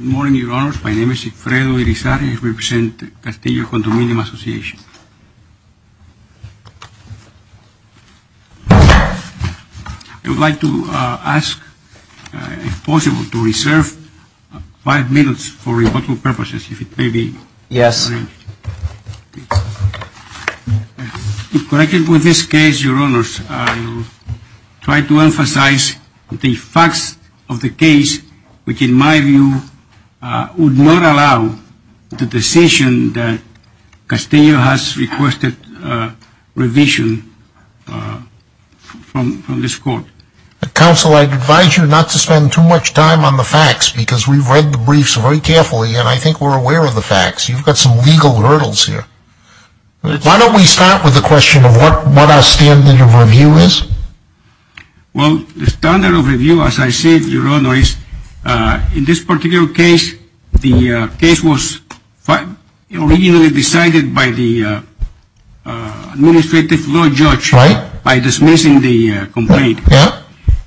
Good morning, Your Honors. My name is Ifredo Irizarry. I represent the Castillo Condominium Association. I would like to ask, if possible, to reserve five minutes for rebuttal purposes, if it may be arranged. If corrected with this case, Your Honors, I will try to emphasize the facts of the case, which in my view would not allow the decision that Castillo has requested revision from this Court. Counsel, I advise you not to spend too much time on the facts because we've read the briefs very carefully and I think we're aware of the facts. You've got some legal hurdles here. Why don't we start with the question of what our standard of review is? Well, the standard of review, as I said, Your Honors, in this particular case, the case was originally decided by the administrative law judge by dismissing the complaint.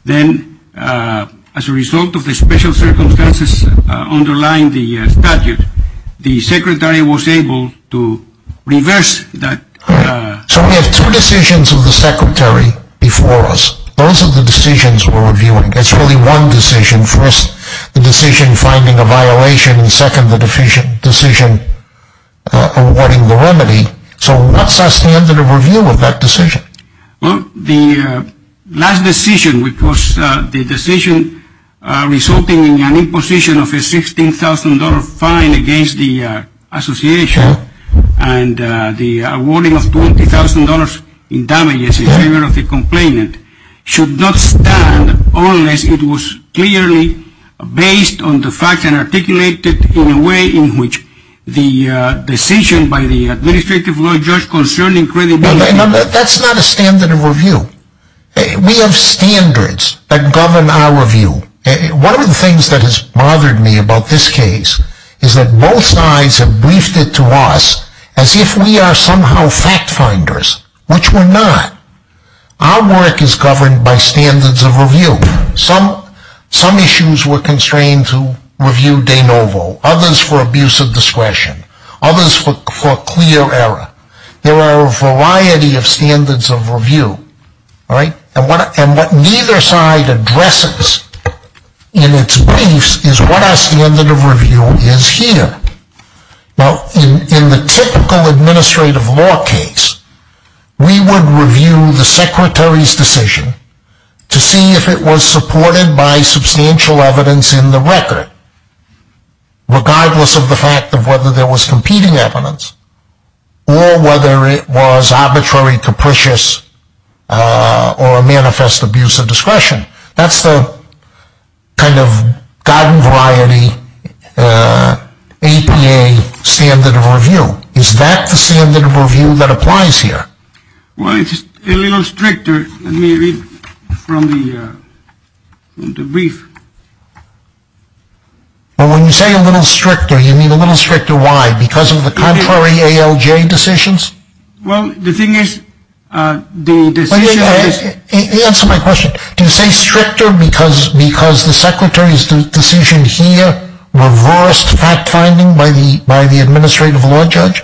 Then, as a result of the special circumstances underlying the statute, the Secretary was able to reverse that. So we have two decisions of the Secretary before us. Those are the decisions we're reviewing. It's really one decision. First, the decision finding a violation and second, the decision awarding the remedy. So what's our standard of review of that decision? Well, the last decision, which was the decision resulting in an imposition of a $16,000 fine against the association and the awarding of $20,000 in damages in favor of the complainant should not stand unless it was clearly based on the facts and articulated in a way in which the decision by the administrative law judge concerning credibility... That's not a standard of review. We have standards that govern our review. One of the things that has bothered me about this case is that both sides have briefed it to us as if we are somehow fact finders, which we're not. Our work is governed by standards of review. Some issues were constrained to review de novo, others for abuse of discretion, others for clear error. There are a variety of standards of review, all right? And what neither side addresses in its briefs is what our standard of review is here. Now, in the typical administrative law case, we would review the Secretary's decision to see if it was supported by substantial evidence in the record, regardless of the fact of whether there was competing evidence, or whether it was arbitrary, capricious, or a manifest abuse of discretion. That's the kind of garden variety APA standard of review. Is that the standard of review that applies here? Well, it's a little stricter, maybe, from the brief. But when you say a little stricter, you mean a little stricter why? Because of the contrary ALJ decisions? Well, the thing is, the decision is... Answer my question. Do you say stricter because the Secretary's decision here reversed fact finding by the administrative law judge?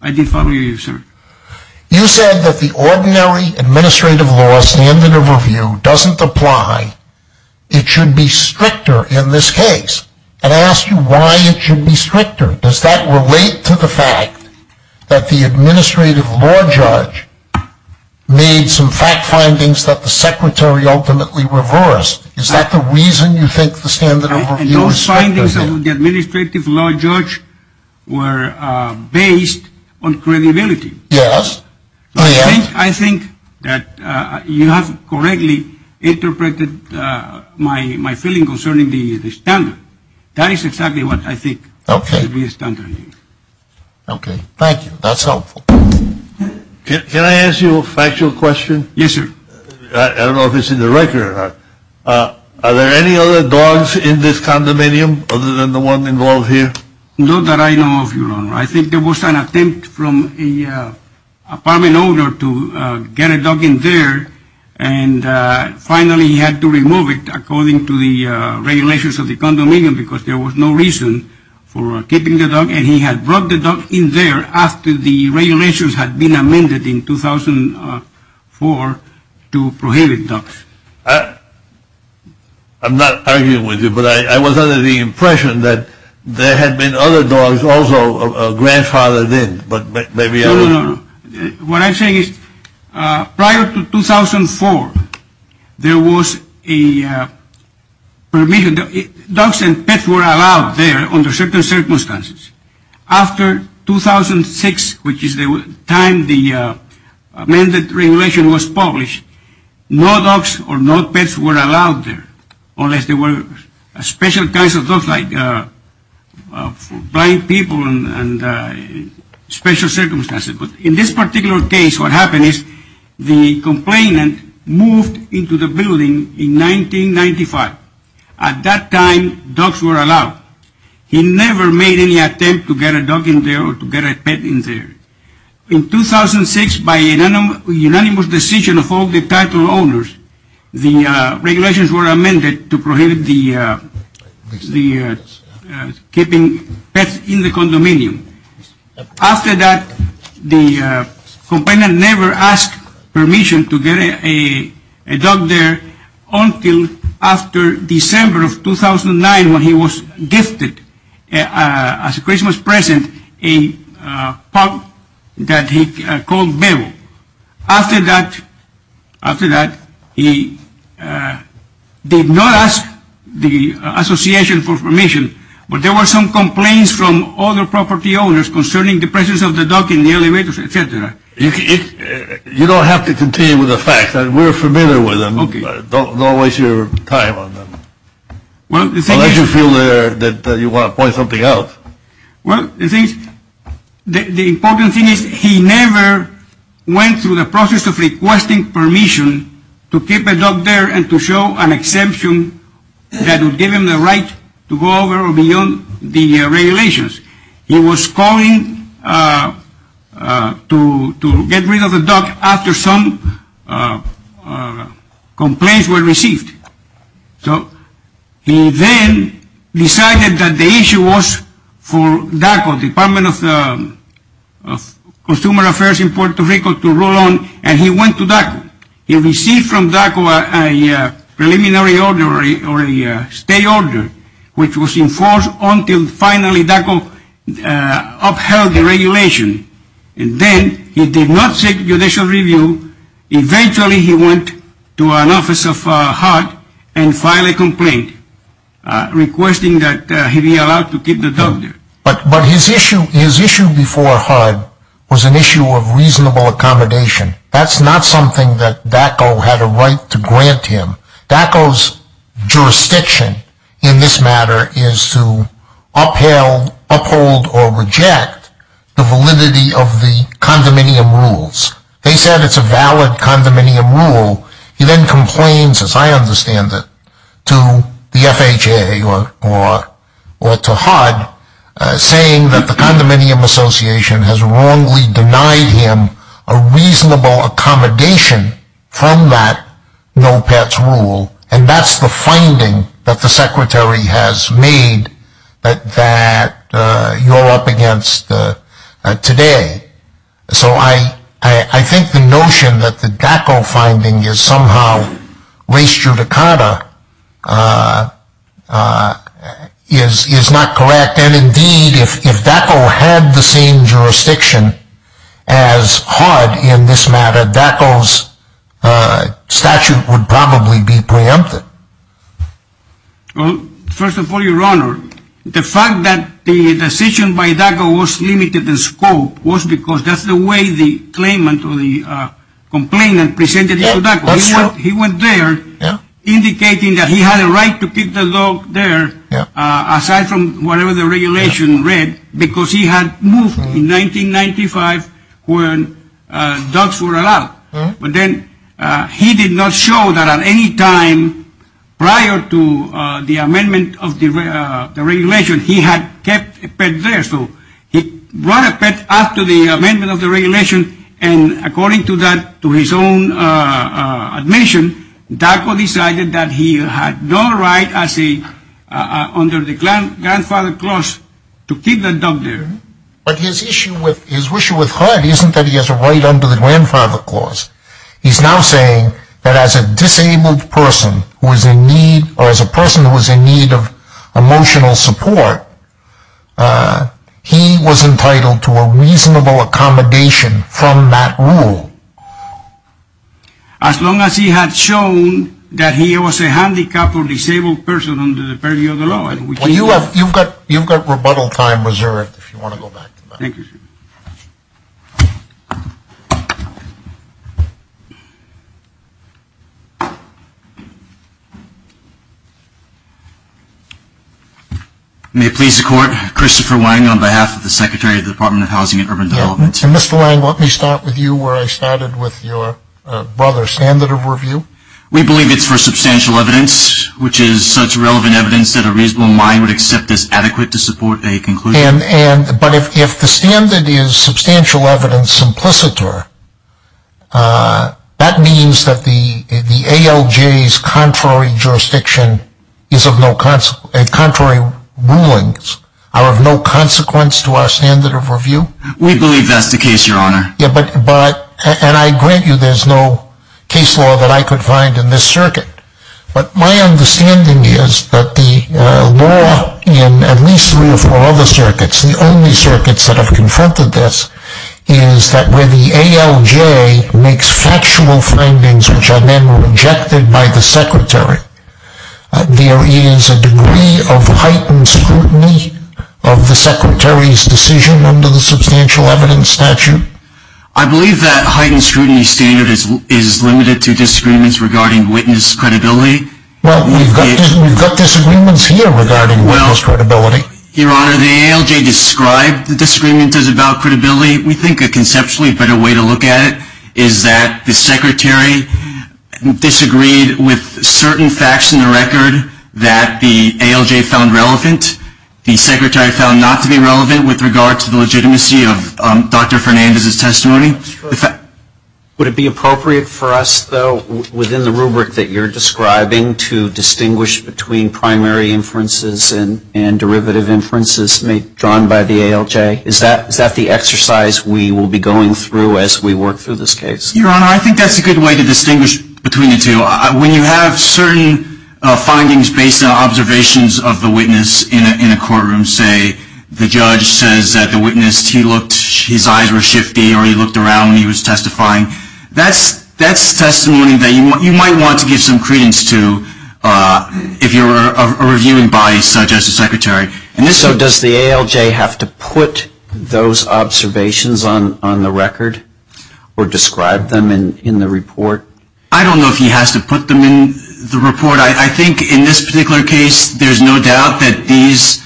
I did follow you, sir. You said that the ordinary administrative law standard of review doesn't apply. It should be stricter in this case. And I asked you why it should be stricter. Does that relate to the fact that the administrative law judge made some fact findings that the Secretary ultimately reversed? Is that the reason you think the standard of review is stricter here? Those findings of the administrative law judge were based on credibility. Yes. I think that you have correctly interpreted my feeling concerning the standard. That is exactly what I think the standard is. Okay. Thank you. That's helpful. Can I ask you a factual question? Yes, sir. I don't know if it's in the record or not. Are there any other dogs in this condominium other than the one involved here? Not that I know of, Your Honor. I think there was an attempt from an apartment owner to get a dog in there and finally he had to remove it according to the regulations of the condominium because there was no reason for keeping the dog. And he had brought the dog in there after the regulations had been amended in 2004 to prohibit dogs. I'm not arguing with you, but I was under the impression that there had been other dogs, also a grandfather then, but maybe... No, no, no. What I'm saying is prior to 2004, there was a permission. Dogs and pets were allowed there under certain circumstances. After 2006, which is the time the amended regulation was published, no dogs or no pets were allowed there unless there were special kinds of dogs like blind people and special circumstances. But in this particular case, what happened is the complainant moved into the building in 1995. At that time, dogs were allowed. He never made any attempt to get a dog in there or to get a pet in there. In 2006, by a unanimous decision of all the title owners, the regulations were amended to prohibit the keeping pets in the condominium. After that, the complainant never asked permission to get a dog there until after December of 2009 when he was gifted as a Christmas present a pup that he called Bebo. After that, he did not ask the association for permission, but there were some complaints from other property owners concerning the presence of the dog in the elevators, etc. You don't have to continue with the facts. We're familiar with them. Don't waste your time on them. Unless you feel that you want to point something out. Well, the important thing is he never went through the process of requesting permission to keep a dog there and to show an exemption that would give him the right to go over or beyond the regulations. He was calling to get rid of the dog after some complaints were received. So he then decided that the issue was for DACO, Department of Consumer Affairs in Puerto Rico, to roll on and he went to DACO. He received from DACO a preliminary order or a stay order which was enforced until finally DACO upheld the regulation and then he did not seek judicial review. Eventually, he went to an office of HUD and filed a complaint requesting that he be allowed to keep the dog there. But his issue before HUD was an issue of reasonable accommodation. That's not something that DACO had a right to grant him. DACO's jurisdiction in this matter is to uphold or reject the validity of the condominium rules. They said it's a valid condominium rule. He then complains, as I understand it, to the FHA or to HUD saying that the condominium association has wrongly denied him a reasonable accommodation from that no pets rule and that's the finding that the secretary has made that you're up against today. So I think the notion that the DACO finding is somehow res judicata uh uh is is not correct and indeed if if DACO had the same jurisdiction as HUD in this matter DACO's uh statute would probably be preempted. Well first of all your honor the fact that the decision by DACO was limited in scope was because that's the way the claimant or the uh complainant presented it to DACO. He went there indicating that he had a right to keep the dog there uh aside from whatever the regulation read because he had moved in 1995 when uh dogs were allowed but then uh he did not show that at any time prior to uh the amendment of the uh the regulation he had kept a pet there so he brought after the amendment of the regulation and according to that to his own uh uh admission DACO decided that he had no right as a uh under the grandfather clause to keep the dog there. But his issue with his issue with HUD isn't that he has a right under the grandfather clause he's now saying that as a disabled person who is in need or as a person who was in need of a reasonable accommodation from that rule. As long as he had shown that he was a handicapped or disabled person under the purview of the law. Well you have you've got you've got rebuttal time reserved if you want to go back to that. Thank you. May it please the court Christopher Wang on behalf of the secretary of the department of housing and urban development. Mr. Wang let me start with you where I started with your brother standard of review. We believe it's for substantial evidence which is such relevant evidence that a reasonable mind would accept as adequate to support a conclusion. And and but if if the standard is substantial evidence simplicitor uh that means that the the ALJ's contrary jurisdiction is of no consequence contrary rulings are of no consequence to our standard of review. We believe that's the case your honor. Yeah but but and I grant you there's no case law that I could find in this circuit. But my understanding is that the uh law in at least three or four other circuits the only circuits that have confronted this is that where the ALJ makes factual findings which are then rejected by the secretary. There is a degree of heightened scrutiny of the secretary's decision under the substantial evidence statute. I believe that heightened scrutiny standard is is limited to disagreements regarding witness credibility. Well we've got we've got disagreements here regarding witness credibility. Your honor the ALJ described the disagreement as about credibility. We think a conceptually better way to look at it is that the secretary disagreed with certain facts in the record that the ALJ found relevant. The secretary found not to be relevant with regard to the legitimacy of Dr. Fernandez's testimony. Would it be appropriate for us though within the and derivative inferences made drawn by the ALJ is that is that the exercise we will be going through as we work through this case? Your honor I think that's a good way to distinguish between the two. When you have certain findings based on observations of the witness in a courtroom say the judge says that the witness he looked his eyes were shifty or he looked around when he was testifying. That's that's testimony that you might want to give some credence to uh if you're a body such as the secretary. So does the ALJ have to put those observations on on the record or describe them in in the report? I don't know if he has to put them in the report. I think in this particular case there's no doubt that these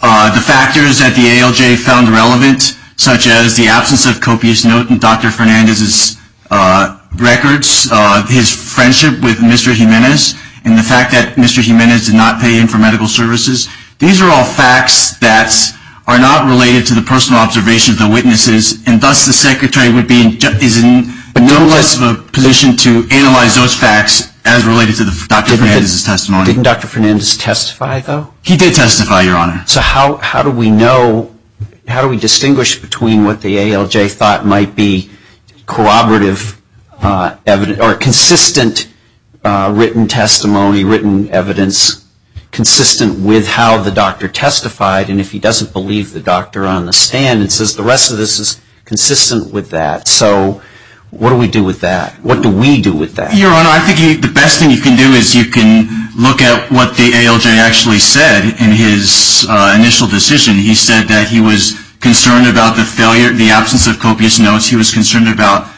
uh the factors that the ALJ found relevant such as the absence of copious note in Dr. Fernandez's uh records uh his friendship with Mr. Jimenez and the fact that Mr. Jimenez did not pay him for medical services. These are all facts that are not related to the personal observation of the witnesses and thus the secretary would be in is in no less of a position to analyze those facts as related to the Dr. Fernandez's testimony. Didn't Dr. Fernandez testify though? He did testify your honor. So how how do we know how do we distinguish between what the ALJ thought might be corroborative uh evidence or consistent written testimony written evidence consistent with how the doctor testified and if he doesn't believe the doctor on the stand and says the rest of this is consistent with that. So what do we do with that? What do we do with that? Your honor I think the best thing you can do is you can look at what the ALJ actually said in his initial decision. He said that he was concerned about the failure the absence of copious notes. He was concerned about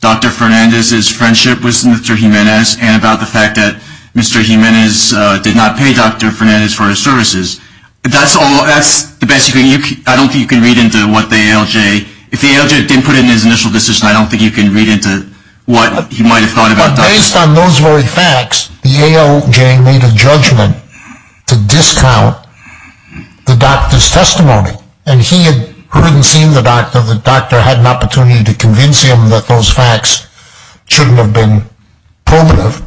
Dr. Fernandez's friendship with Mr. Jimenez and about the fact that Mr. Jimenez uh did not pay Dr. Fernandez for his services. That's all that's the best you can you I don't think you can read into what the ALJ if the ALJ didn't put in his initial decision I don't think you can read into what he might have thought about based on those very facts the ALJ made a judgment to discount the doctor's testimony and he had heard and seen the doctor the doctor had an opportunity to convince him that those facts shouldn't have been probative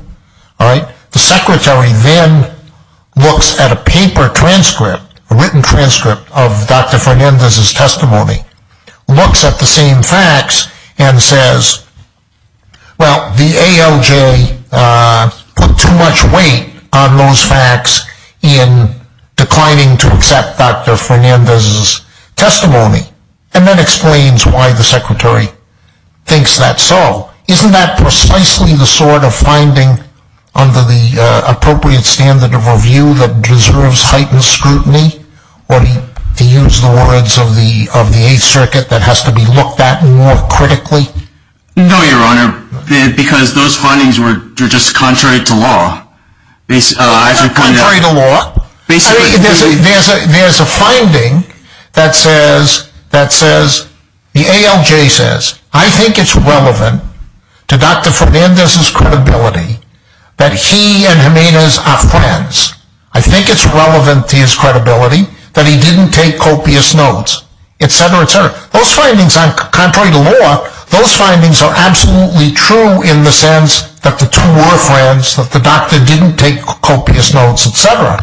all right the secretary then looks at a paper transcript a written transcript of Dr. Fernandez's testimony looks at the same facts and says well the ALJ uh put too much weight on those facts in declining to accept Dr. Fernandez's testimony and then explains why the secretary thinks that so isn't that precisely the sort of finding under the uh appropriate standard of review that deserves heightened scrutiny or to use the words of the of the eighth circuit that has to be looked at more critically no your honor because those findings were just contrary to law it's uh contrary to law there's a there's a there's a finding that says that says the ALJ says I think it's relevant to Dr. Fernandez's credibility that he and Jimenez are friends I think it's relevant to his credibility that he didn't take copious notes etc etc those findings are contrary to law those findings are absolutely true in the sense that the two were friends that doctor didn't take copious notes etc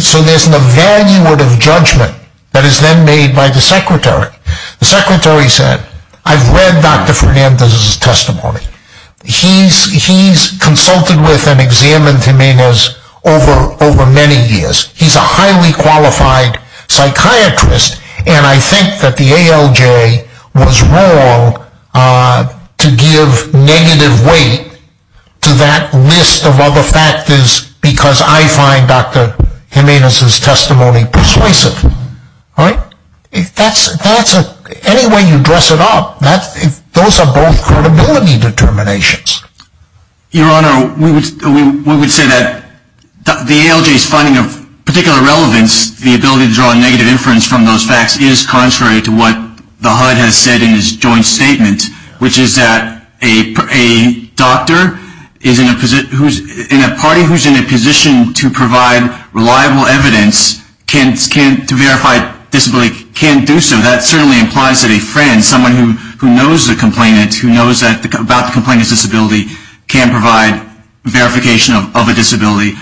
so there's an evaluative judgment that is then made by the secretary the secretary said I've read Dr. Fernandez's testimony he's he's consulted with and examined Jimenez over over many years he's a highly qualified psychiatrist and I think that ALJ was wrong uh to give negative weight to that list of other factors because I find Dr. Jimenez's testimony persuasive all right if that's that's a any way you dress it up that those are both credibility determinations your honor we would we would say that the ALJ's finding of particular relevance the ability to draw a negative inference from those facts is contrary to what the HUD has said in his joint statement which is that a a doctor is in a position who's in a party who's in a position to provide reliable evidence can't can't to verify disability can't do so that certainly implies that a friend someone who who knows the complainant who knows that about the complainant's disability can provide verification of a disability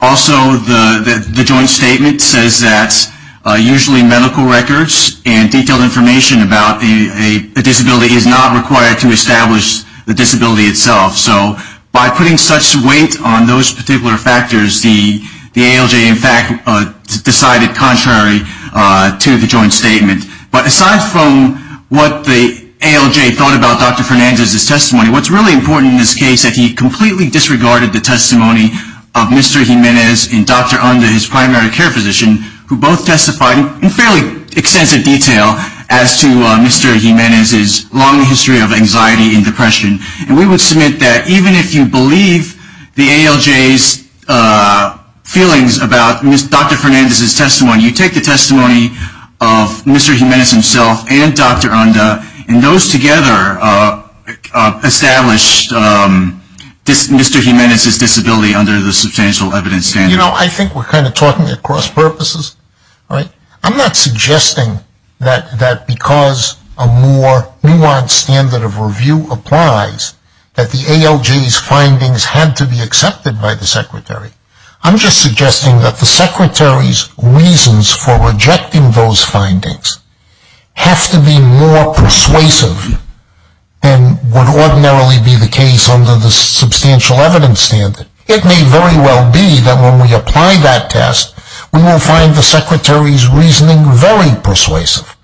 also the the joint statement says that usually medical records and detailed information about a a disability is not required to establish the disability itself so by putting such weight on those particular factors the the ALJ in fact uh decided contrary uh to the joint statement but aside from what the ALJ thought about Dr. Fernandez's testimony what's really important in this case that he completely disregarded the testimony of Mr. Jimenez and Dr. Onda his primary care physician who both testified in fairly extensive detail as to Mr. Jimenez's long history of anxiety and depression and we would submit that even if you believe the ALJ's uh feelings about Dr. Fernandez's testimony you take the testimony of Mr. Jimenez himself and Dr. Onda and those together uh established um this Mr. Jimenez's disability under the substantial evidence standard you know I think we're kind of talking at cross purposes right I'm not suggesting that that because a more nuanced standard of review applies that the ALJ's findings had to be accepted by the secretary I'm just suggesting that the secretary's reasons for rejecting those findings have to be more persuasive than would ordinarily be the case under the substantial evidence standard it may very well be that when we apply that test we will find the secretary's reasoning very persuasive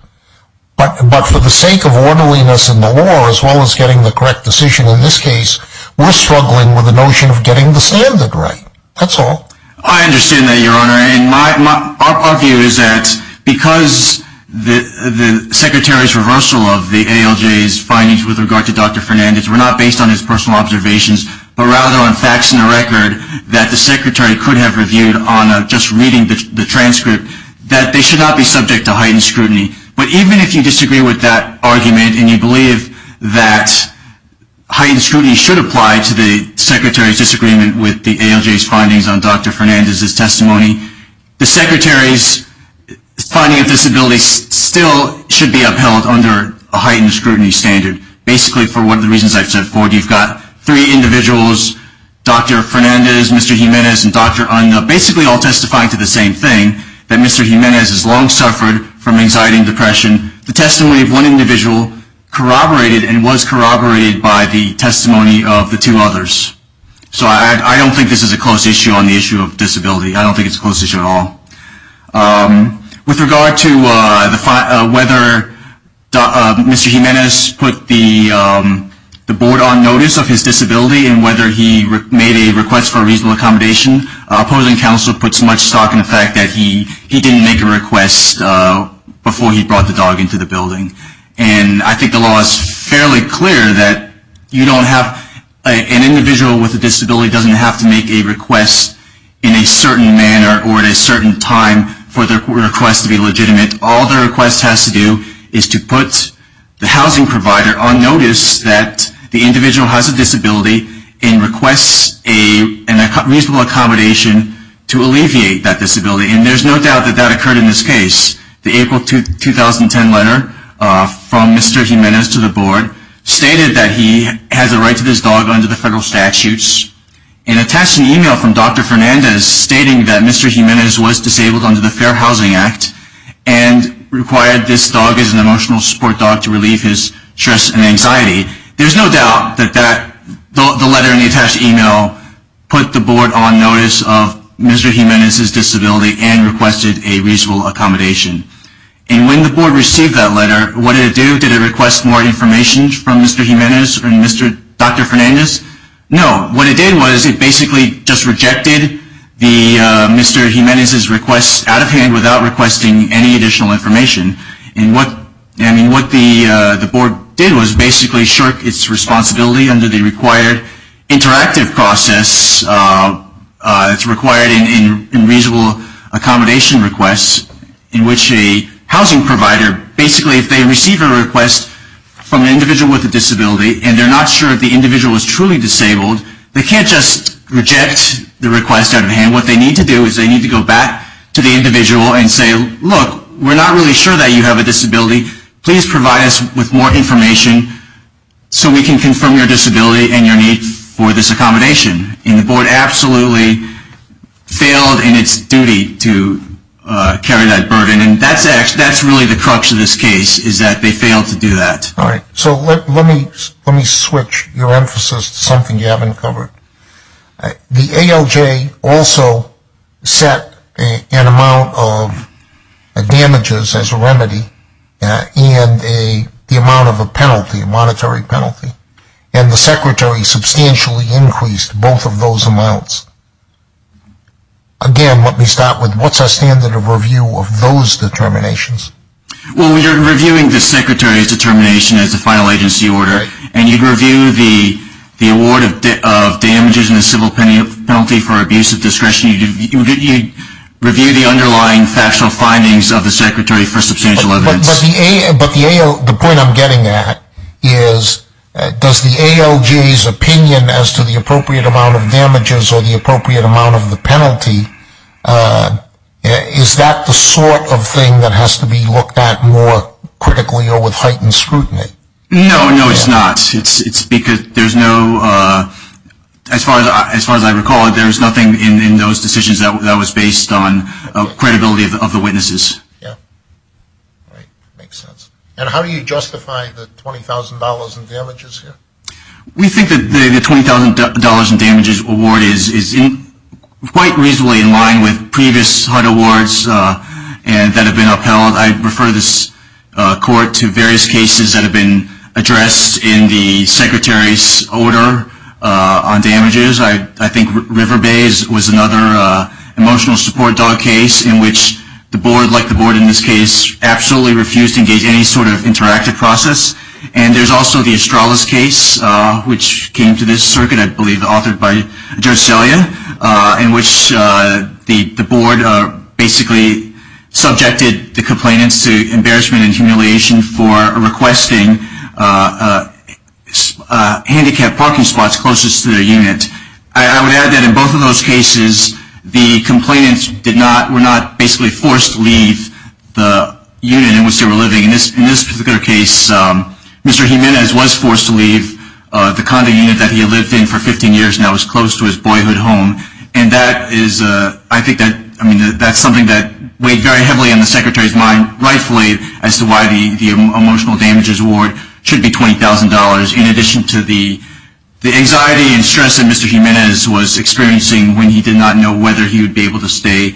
but but for the sake of orderliness in the law as well as getting the correct decision in this case we're struggling with the notion of getting the standard right that's all I understand that your honor and my my our view is that because the the secretary's reversal of the ALJ's findings with regard to Dr. Fernandez were not based on his personal observations but rather on facts in the record that the secretary could have reviewed on uh just reading the transcript that they should not be subject to heightened scrutiny but even if you disagree with that argument and you believe that heightened scrutiny should apply to the ALJ's findings on Dr. Fernandez's testimony the secretary's finding of disability still should be upheld under a heightened scrutiny standard basically for one of the reasons I've said before you've got three individuals Dr. Fernandez, Mr. Jimenez, and Dr. Unup basically all testifying to the same thing that Mr. Jimenez has long suffered from anxiety and depression the testimony of one individual corroborated and was corroborated by the testimony of the two others so I don't think this is a close issue on the issue of disability I don't think it's a close issue at all um with regard to uh the whether uh Mr. Jimenez put the um the board on notice of his disability and whether he made a request for reasonable accommodation opposing counsel puts much stock in the fact that he he didn't make a request uh before he brought the dog into the with the disability doesn't have to make a request in a certain manner or at a certain time for the request to be legitimate all the request has to do is to put the housing provider on notice that the individual has a disability and requests a reasonable accommodation to alleviate that disability and there's no doubt that that occurred in this case the April 2010 letter uh from Mr. Jimenez to the board of trustees that was sent to this dog under the federal statutes and attached an email from Dr. Fernandez stating that Mr. Jimenez was disabled under the Fair Housing Act and required this dog as an emotional support dog to relieve his stress and anxiety there's no doubt that that the letter and the attached email put the board on notice of Mr. Jimenez's disability and requested a reasonable accommodation and when the board received that what did it do did it request more information from Mr. Jimenez and Mr. Dr. Fernandez no what it did was it basically just rejected the uh Mr. Jimenez's request out of hand without requesting any additional information and what I mean what the uh the board did was basically shirk its responsibility under the required interactive process uh uh it's required in in reasonable accommodation requests in which a housing provider basically if they receive a request from an individual with a disability and they're not sure if the individual is truly disabled they can't just reject the request out of hand what they need to do is they need to go back to the individual and say look we're not really sure that you have a disability please provide us with more information so we can confirm your disability and your need for this accommodation and the board absolutely failed in its duty to uh carry that burden and that's actually that's really the crux of this case is that they failed to do that all right so let me let me switch your emphasis to something you haven't covered the ALJ also set a an amount of damages as a remedy and a the amount of a penalty a monetary penalty and the secretary substantially increased both of those amounts again let me start with what's our standard of review of those determinations well we are reviewing the secretary's determination as a final agency order and you'd review the the award of of damages in the civil penalty for abuse of discretion you'd review the underlying factual findings of the secretary for substantial evidence but the point i'm getting at is does the ALJ's opinion as to the appropriate amount of damages or the appropriate amount of the penalty uh is that the sort of thing that has to be looked at more critically or with heightened scrutiny no no it's not it's it's because there's no uh as far as as far as i recall there's nothing in in those decisions that was based on a credibility of the witnesses yeah right makes sense and how do you justify the twenty thousand dollars in damages here we think that the twenty thousand dollars in damages award is is in quite reasonably in line with previous HUD awards uh and that have been upheld i refer this uh court to various cases that have been addressed in the secretary's order uh on damages i i think river bays was another uh emotional support dog case in which the board like the board in this case absolutely refused to engage any sort of interactive process and there's also the astralis case uh which came to this circuit i believe authored by judge celia uh in which uh the board uh basically subjected the complainants to embarrassment and humiliation for requesting handicapped parking spots closest to their unit i would add that in both of those cases the complainants did not were not basically forced to leave the unit in which they were living in this in this particular case um mr jimenez was forced to leave uh the condo unit for 15 years and i was close to his boyhood home and that is uh i think that i mean that's something that weighed very heavily on the secretary's mind rightfully as to why the the emotional damages award should be twenty thousand dollars in addition to the the anxiety and stress that mr jimenez was experiencing when he did not know whether he would be able to stay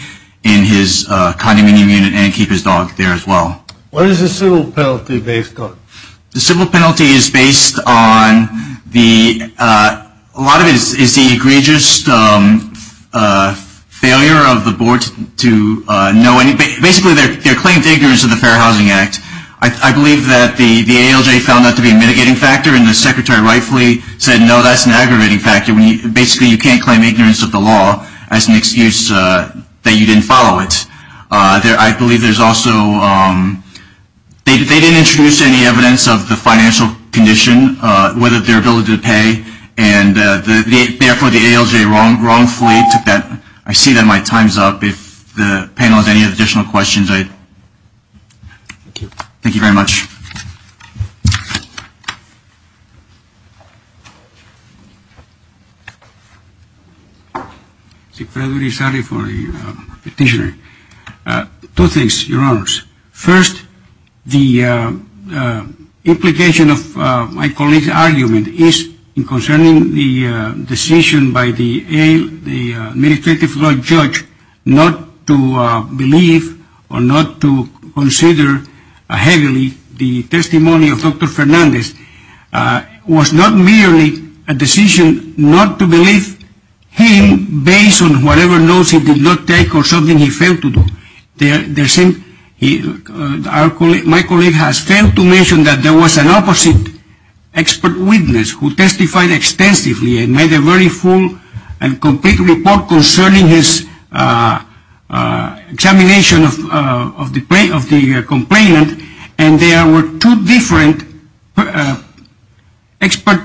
in his uh condominium unit and keep his dog there as well what is the civil penalty based on the civil penalty is based on the uh a lot of it is the egregious um uh failure of the board to uh know anybody basically they're they're claimed ignorance of the fair housing act i i believe that the the alj found that to be a mitigating factor and the secretary rightfully said no that's an aggravating factor when you basically you can't claim ignorance of the law as an excuse uh that you didn't follow it uh there i believe there's also um they didn't introduce any evidence of the financial condition uh whether their ability to pay and uh the therefore the alj wrong wrongfully took that i see that my time's up if the panel has any additional questions i thank you thank you very much uh petitioner uh two things your honors first the uh uh implication of uh my colleague's argument is in concerning the uh decision by the a the administrative law judge not to uh believe or not to consider heavily the testimony of dr fernandez uh was not merely a decision not to believe him based on whatever notes he did not take or something he failed to do the the same he our colleague my colleague has failed to mention that there was an opposite expert witness who testified extensively and made a very full and complete report concerning his uh uh examination of uh of the play of the complainant and there were two different expert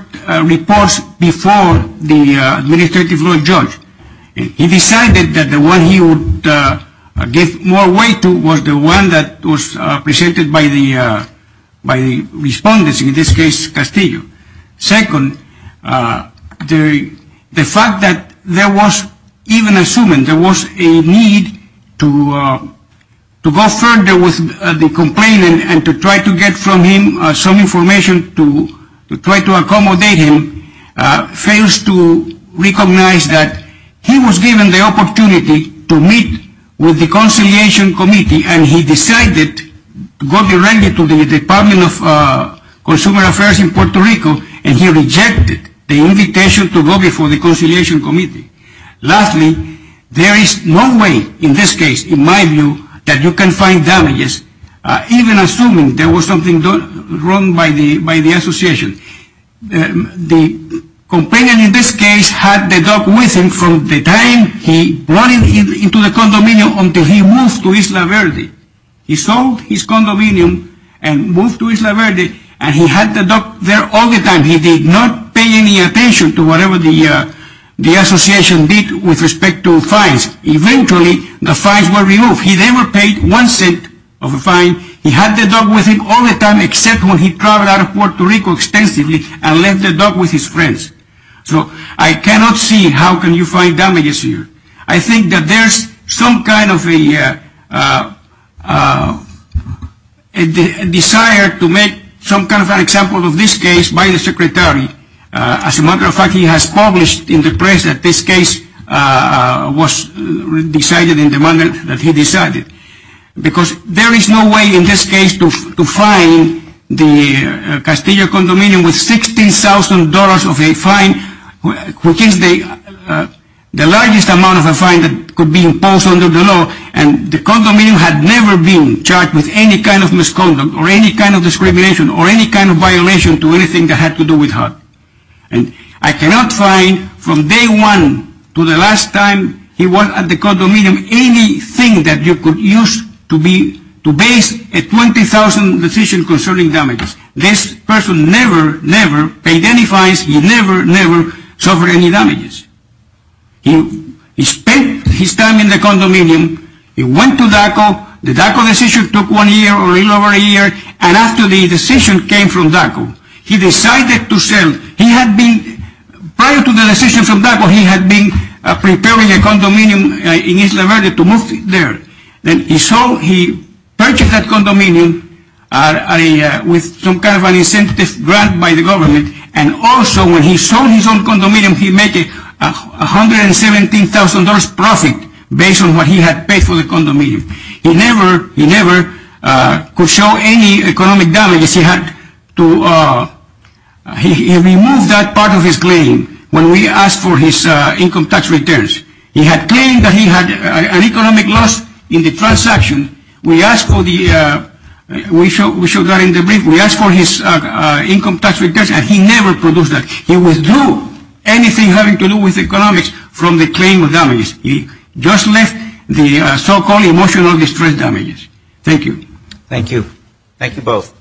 reports before the uh administrative law judge he decided that the one he would uh give more weight to was the one that was uh presented by the uh by the respondents in this castillo second uh the the fact that there was even assuming there was a need to uh to go further with the complainant and to try to get from him some information to try to accommodate him uh fails to recognize that he was given the opportunity to meet with the conciliation and he decided to go directly to the department of uh consumer affairs in puerto rico and he rejected the invitation to go before the conciliation committee lastly there is no way in this case in my view that you can find damages uh even assuming there was something wrong by the by the association the complainant in this case had the dog with him from the time he brought him into the condominium until he moved to isla verde he sold his condominium and moved to isla verde and he had the dog there all the time he did not pay any attention to whatever the uh the association did with respect to fines eventually the fines were removed he never paid one cent of a fine he had the dog with him all the time except when he traveled out of puerto rico extensively and left the dog with his friends so i cannot see how can you find damages here i think that there's some kind of a uh uh desire to make some kind of an example of this case by the secretary uh as a matter of fact he has published in the press that this case uh was decided in the manner that he decided because there is no way in this case to find the castillo condominium with sixteen thousand dollars of a fine which is the uh the largest amount of a fine that could be imposed under the law and the condominium had never been charged with any kind of misconduct or any kind of discrimination or any kind of violation to anything that had to do with her and i cannot find from day one to the last time he was at the condominium anything that you could use to be to base a twenty thousand decision concerning damages this person never never paid any fines he never never suffered any damages he he spent his time in the condominium he went to daco the daco decision took one year or a little over a year and after the decision came from daco he decided to sell he had been prior to the decision from daco he had been preparing a condominium in isla verde to move there then he saw he purchased that condominium uh i uh with some kind of an incentive grant by the government and also when he sold his own condominium he make it a hundred and seventeen thousand dollars profit based on what he had paid for the condominium he never he never uh could show any economic damage he had to uh he removed that part of his claim when we asked for his uh income tax returns he had that he had an economic loss in the transaction we asked for the uh we showed we showed that in the brief we asked for his uh income tax returns and he never produced that he withdrew anything having to do with economics from the claim of damages he just left the so-called emotional distress damages thank you thank you thank you both